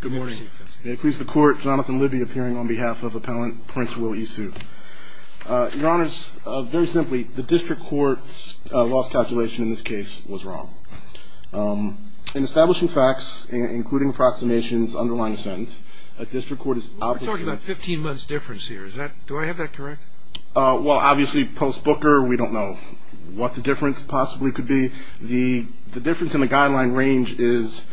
Good morning. May it please the court, Jonathan Libby appearing on behalf of appellant Prince Will Isu. Your honors, very simply, the district court's loss calculation in this case was wrong. In establishing facts, including approximations underlying the sentence, a district court is... We're talking about 15 months difference here. Do I have that correct? Well, obviously, post-Booker, we don't know what the difference possibly could be. The difference in the guideline range is...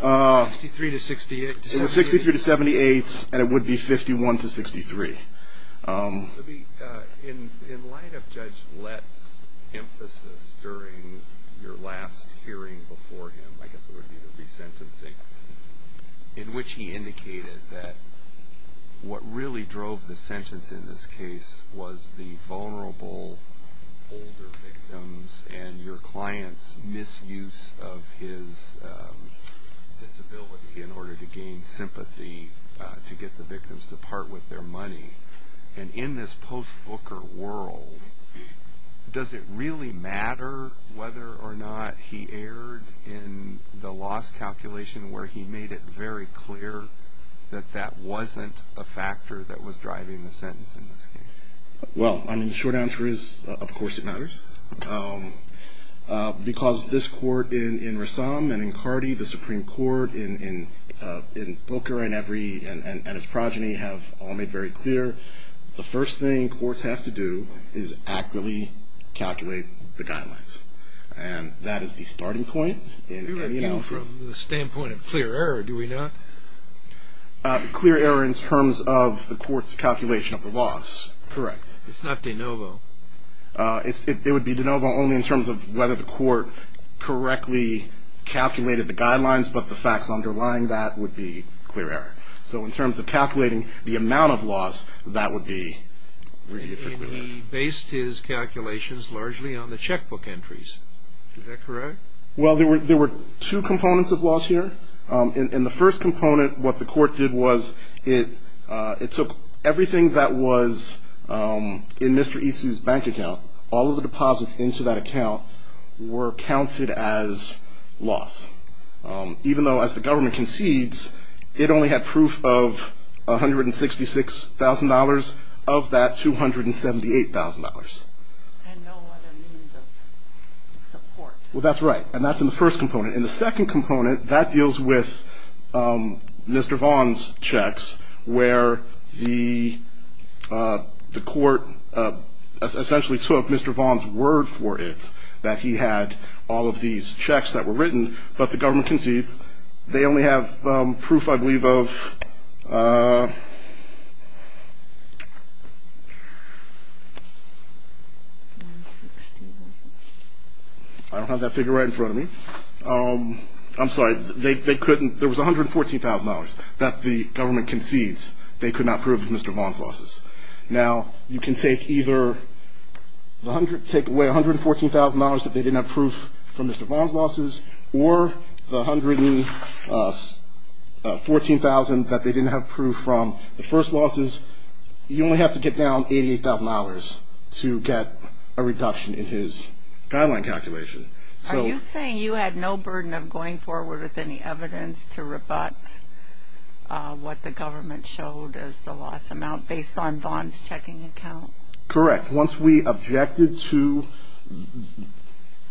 63 to 68. It was 63 to 78, and it would be 51 to 63. Libby, in light of Judge Lett's emphasis during your last hearing before him, I guess it would be the resentencing, in which he indicated that what really drove the sentence in this case was the vulnerable older victims and your client's misuse of his disability in order to gain sympathy to get the victims to part with their money. And in this post-Booker world, does it really matter whether or not he erred in the loss calculation where he made it very clear that that wasn't a factor that was driving the sentence in this case? Well, I mean, the short answer is, of course it matters, because this court in Rassam and in Cardi, the Supreme Court in Booker and its progeny have all made very clear the first thing courts have to do is accurately calculate the guidelines, and that is the starting point in any analysis. From the standpoint of clear error, do we not? Clear error in terms of the court's calculation of the loss, correct. It's not de novo. It would be de novo only in terms of whether the court correctly calculated the guidelines, but the facts underlying that would be clear error. So in terms of calculating the amount of loss, that would be very difficult. And he based his calculations largely on the checkbook entries. Is that correct? Well, there were two components of loss here. In the first component, what the court did was it took everything that was in Mr. Isu's bank account, all of the deposits into that account were counted as loss, even though as the government concedes, it only had proof of $166,000 of that $278,000. And no other means of support. Well, that's right, and that's in the first component. In the second component, that deals with Mr. Vaughn's checks, where the court essentially took Mr. Vaughn's word for it, that he had all of these checks that were written, but the government concedes they only have proof, I believe, of $166,000. I don't have that figure right in front of me. I'm sorry. They couldn't — there was $114,000 that the government concedes they could not prove of Mr. Vaughn's losses. Now, you can take either — take away $114,000 that they didn't have proof from Mr. Vaughn's losses or the $114,000 that they didn't have proof from the first losses. You only have to get down $88,000 to get a reduction in his guideline calculation. Are you saying you had no burden of going forward with any evidence to rebut what the government showed as the loss amount, based on Vaughn's checking account? Correct. Once we objected to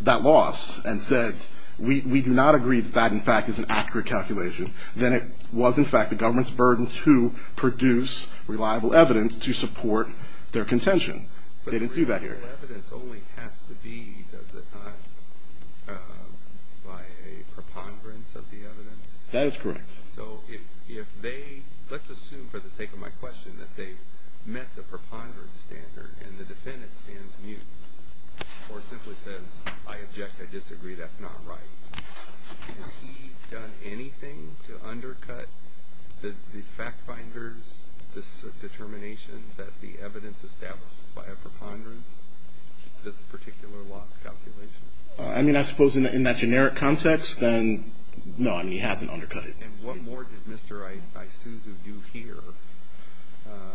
that loss and said, we do not agree that that, in fact, is an accurate calculation, then it was, in fact, the government's burden to produce reliable evidence to support their contention. They didn't do that here. But reliable evidence only has to be, does it not, by a preponderance of the evidence? That is correct. So if they — let's assume, for the sake of my question, that they met the preponderance standard and the defendant stands mute or simply says, I object, I disagree, that's not right. Has he done anything to undercut the fact finder's determination that the evidence established by a preponderance this particular loss calculation? I mean, I suppose in that generic context, then, no, I mean, he hasn't undercut it. And what more did Mr. Isuzu do here?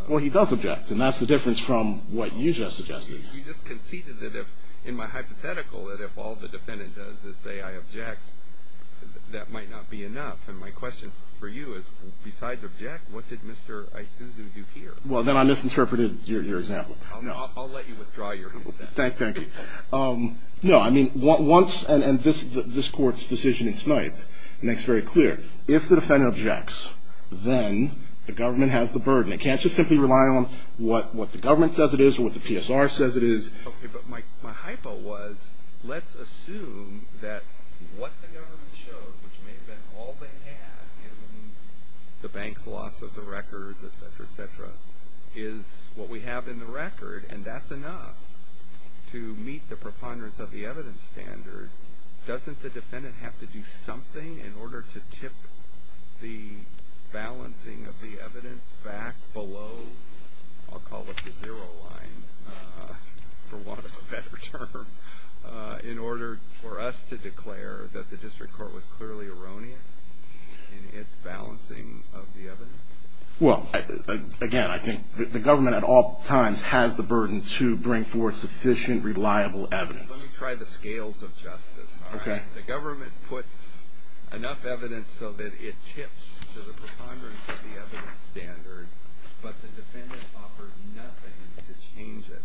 Well, he does object, and that's the difference from what you just suggested. You just conceded that if, in my hypothetical, that if all the defendant does is say, I object, that might not be enough. And my question for you is, besides object, what did Mr. Isuzu do here? Well, then I misinterpreted your example. I'll let you withdraw your consent. Thank you. No, I mean, once — and this Court's decision in Snipe makes very clear. If the defendant objects, then the government has the burden. They can't just simply rely on what the government says it is or what the PSR says it is. Okay, but my hypo was, let's assume that what the government showed, which may have been all they had in the bank's loss of the records, et cetera, et cetera, is what we have in the record, and that's enough to meet the preponderance of the evidence standard. Doesn't the defendant have to do something in order to tip the balancing of the evidence back below, I'll call it the zero line for want of a better term, in order for us to declare that the district court was clearly erroneous in its balancing of the evidence? Well, again, I think the government at all times has the burden to bring forth sufficient, reliable evidence. Let me try the scales of justice, all right? Okay. The government puts enough evidence so that it tips to the preponderance of the evidence standard, but the defendant offers nothing to change it.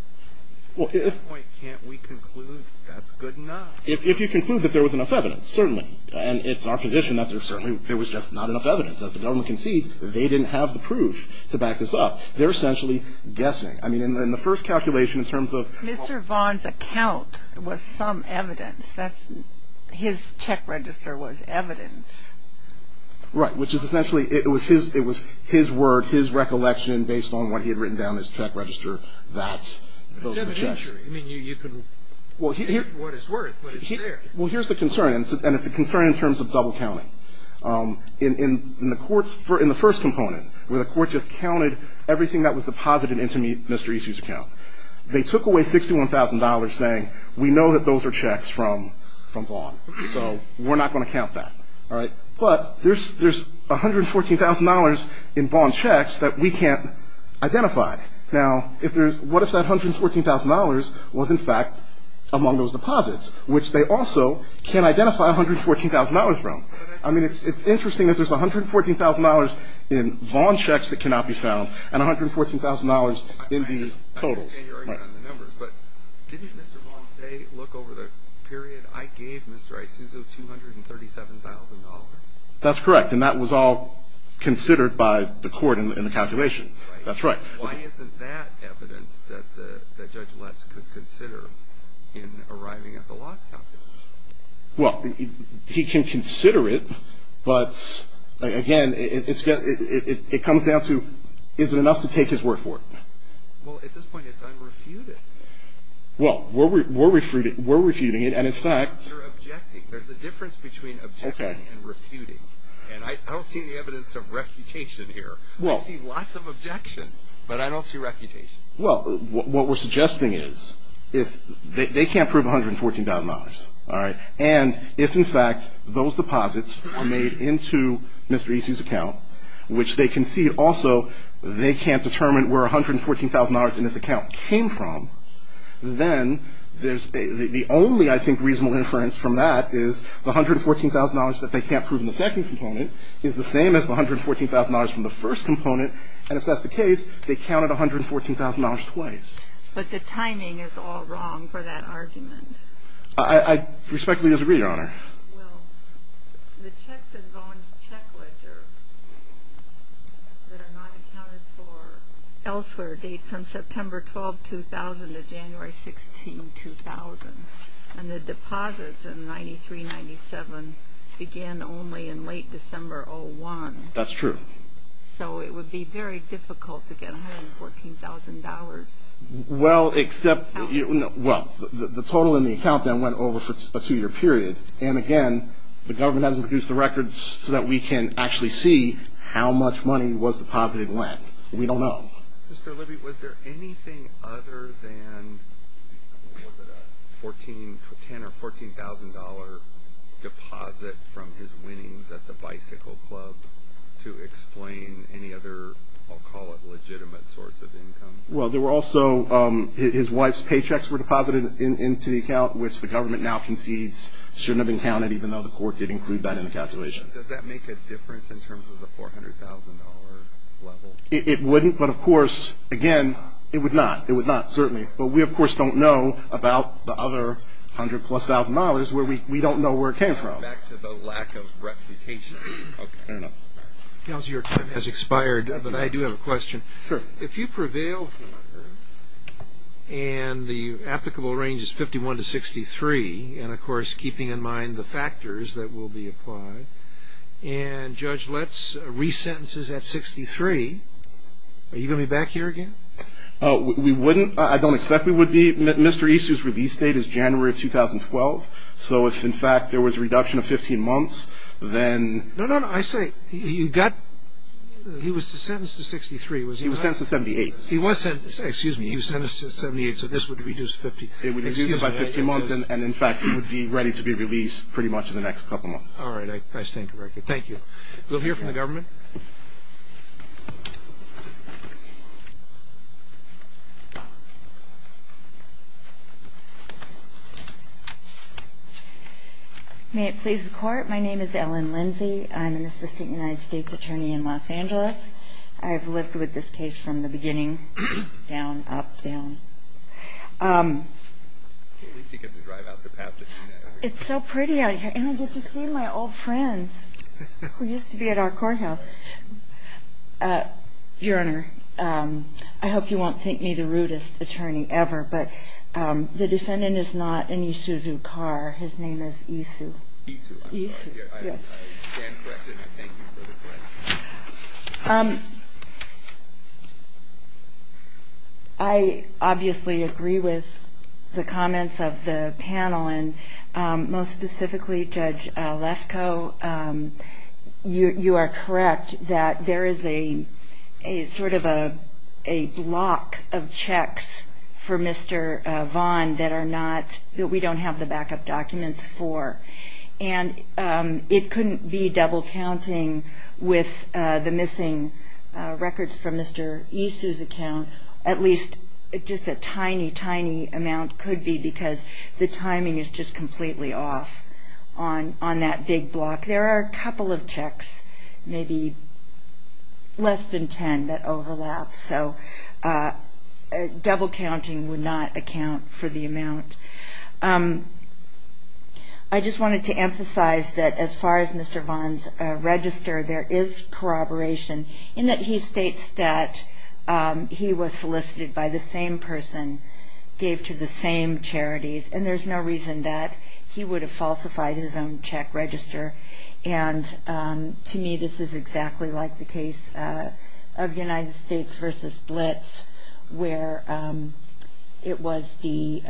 Well, if — At this point, can't we conclude that's good enough? If you conclude that there was enough evidence, certainly. And it's our position that there certainly — there was just not enough evidence. As the government concedes, they didn't have the proof to back this up. They're essentially guessing. I mean, in the first calculation, in terms of — Mr. Vaughn's account was some evidence. That's — his check register was evidence. Right, which is essentially — it was his — it was his word, his recollection, based on what he had written down in his check register. That's — It's evidentiary. I mean, you can hear for what it's worth, but it's there. Well, here's the concern, and it's a concern in terms of double-counting. In the court's — in the first component, where the court just counted everything that was deposited into Mr. Easley's account, they took away $61,000, saying, we know that those are checks from Vaughn. So we're not going to count that. All right? But there's $114,000 in Vaughn checks that we can't identify. Now, if there's — what if that $114,000 was, in fact, among those deposits, which they also can't identify $114,000 from? I mean, it's interesting that there's $114,000 in Vaughn checks that cannot be found and $114,000 in the totals. I can't hear you on the numbers, but didn't Mr. Vaughn say, look, over the period, I gave Mr. Isuzu $237,000? That's correct, and that was all considered by the court in the calculation. That's right. Why isn't that evidence that Judge Letts could consider in arriving at the loss calculation? Well, he can consider it, but, again, it comes down to, is it enough to take his word for it? Well, at this point, it's unrefuted. Well, we're refuting it, and in fact — There's a difference between objecting and refuting, and I don't see any evidence of refutation here. I see lots of objection, but I don't see refutation. Well, what we're suggesting is they can't prove $114,000. All right? And if, in fact, those deposits are made into Mr. Isuzu's account, which they concede also they can't determine where $114,000 in this account came from, then the only, I think, reasonable inference from that is the $114,000 that they can't prove in the second component is the same as the $114,000 from the first component, and if that's the case, they counted $114,000 twice. But the timing is all wrong for that argument. I respectfully disagree, Your Honor. Well, the checks and bonds checklist that are not accounted for elsewhere date from September 12, 2000 to January 16, 2000, and the deposits in 93-97 began only in late December 01. That's true. So it would be very difficult to get $114,000. Well, except, well, the total in the account then went over a two-year period, and, again, the government hasn't produced the records so that we can actually see how much money was deposited when. We don't know. Mr. Libby, was there anything other than, what was it, a $10,000 or $14,000 deposit from his winnings at the bicycle club to explain any other, I'll call it, legitimate source of income? Well, there were also his wife's paychecks were deposited into the account, which the government now concedes shouldn't have been counted, even though the court did include that in the calculation. Does that make a difference in terms of the $400,000 level? It wouldn't, but, of course, again, it would not. It would not, certainly. But we, of course, don't know about the other $100,000-plus where we don't know where it came from. Back to the lack of reputation. Fair enough. Giles, your time has expired, but I do have a question. Sure. If you prevail here and the applicable range is 51 to 63, and, of course, keeping in mind the factors that will be applied, and Judge Letts resentences at 63, are you going to be back here again? We wouldn't. I don't expect we would be. Mr. Isu's release date is January of 2012, so if, in fact, there was a reduction of 15 months, then... No, no, no. I say you got... he was sentenced to 63, was he not? He was sentenced to 78. He was sentenced. Excuse me. He was sentenced to 78, so this would reduce to 50. It would reduce by 50 months, and, in fact, he would be ready to be released pretty much in the next couple months. All right. I stand corrected. Thank you. We'll hear from the government. May it please the Court, my name is Ellen Lindsey. I'm an assistant United States attorney in Los Angeles. I've lived with this case from the beginning, down, up, down. At least you get to drive out to Pasadena. It's so pretty out here, and I get to see my old friends who used to be at our courthouse. Your Honor, I hope you won't think me the rudest attorney ever, but the defendant is not Anisuzu Carr. His name is Isu. Isu. Yes. I stand corrected, and I thank you for the correction. I obviously agree with the comments of the panel, and most specifically, Judge Lefkoe, you are correct that there is a sort of a block of checks for Mr. Vaughn that we don't have the backup documents for, and it couldn't be double counting with the missing records from Mr. Isu's account. At least just a tiny, tiny amount could be because the timing is just completely off on that big block. There are a couple of checks, maybe less than 10, that overlap, so double counting would not account for the amount. I just wanted to emphasize that as far as Mr. Vaughn's register, there is corroboration, in that he states that he was solicited by the same person, gave to the same charities, and there's no reason that he would have falsified his own check register, and to me this is exactly like the case of United States v. Blitz, where it was the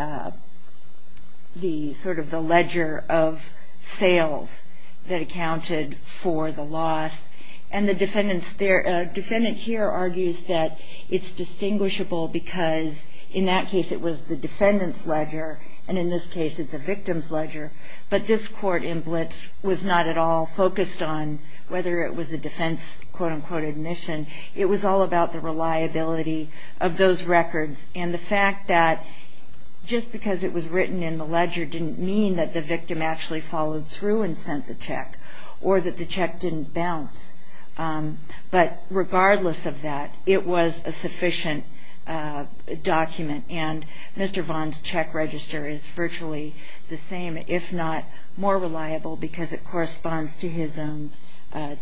sort of the ledger of sales that accounted for the loss, and the defendant here argues that it's distinguishable because in that case it was the defendant's ledger, and in this case it's the victim's ledger, but this court in Blitz was not at all focused on whether it was a defense quote-unquote admission. It was all about the reliability of those records, and the fact that just because it was written in the ledger didn't mean that the victim actually followed through and sent the check or that the check didn't bounce, but regardless of that, it was a sufficient document, and Mr. Vaughn's check register is virtually the same, if not more reliable, because it corresponds to his own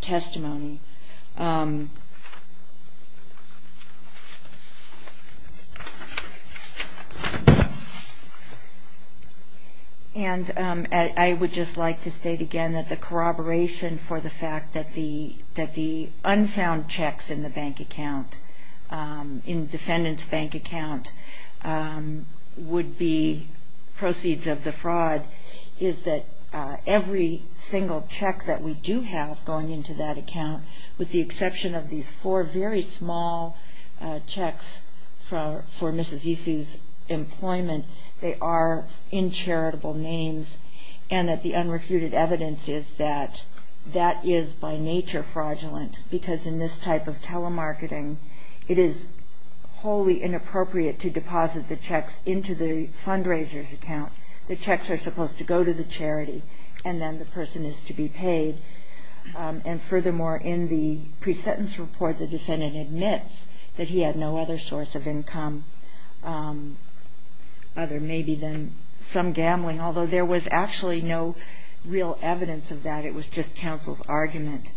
testimony. And I would just like to state again that the corroboration for the fact that the unfound checks in the bank account, in defendant's bank account, would be proceeds of the fraud, is that every single check that we do have going into that account, with the exception of these four very small checks for Mrs. Isu's employment, they are in charitable names, and that the unrefuted evidence is that that is by nature fraudulent, because in this type of telemarketing, it is wholly inappropriate to deposit the checks into the fundraiser's account. The checks are supposed to go to the charity, and then the person is to be paid, and furthermore, in the pre-sentence report, the defendant admits that he had no other source of income, other maybe than some gambling, although there was actually no real evidence of that. It was just counsel's argument.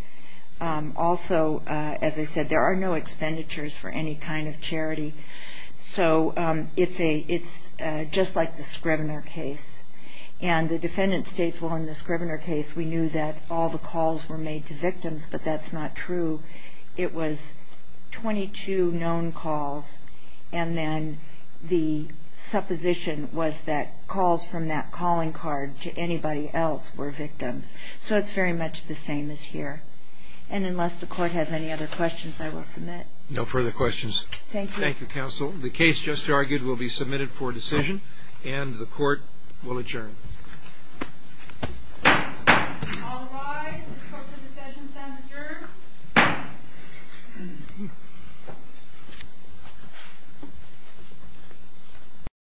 Also, as I said, there are no expenditures for any kind of charity. So it's just like the Scrivener case, and the defendant states, well, in the Scrivener case, we knew that all the calls were made to victims, but that's not true. It was 22 known calls, and then the supposition was that calls from that calling card to anybody else were victims. So it's very much the same as here. And unless the court has any other questions, I will submit. No further questions. Thank you. Thank you, counsel. The case just argued will be submitted for decision, and the court will adjourn. All rise. The court for decision is adjourned.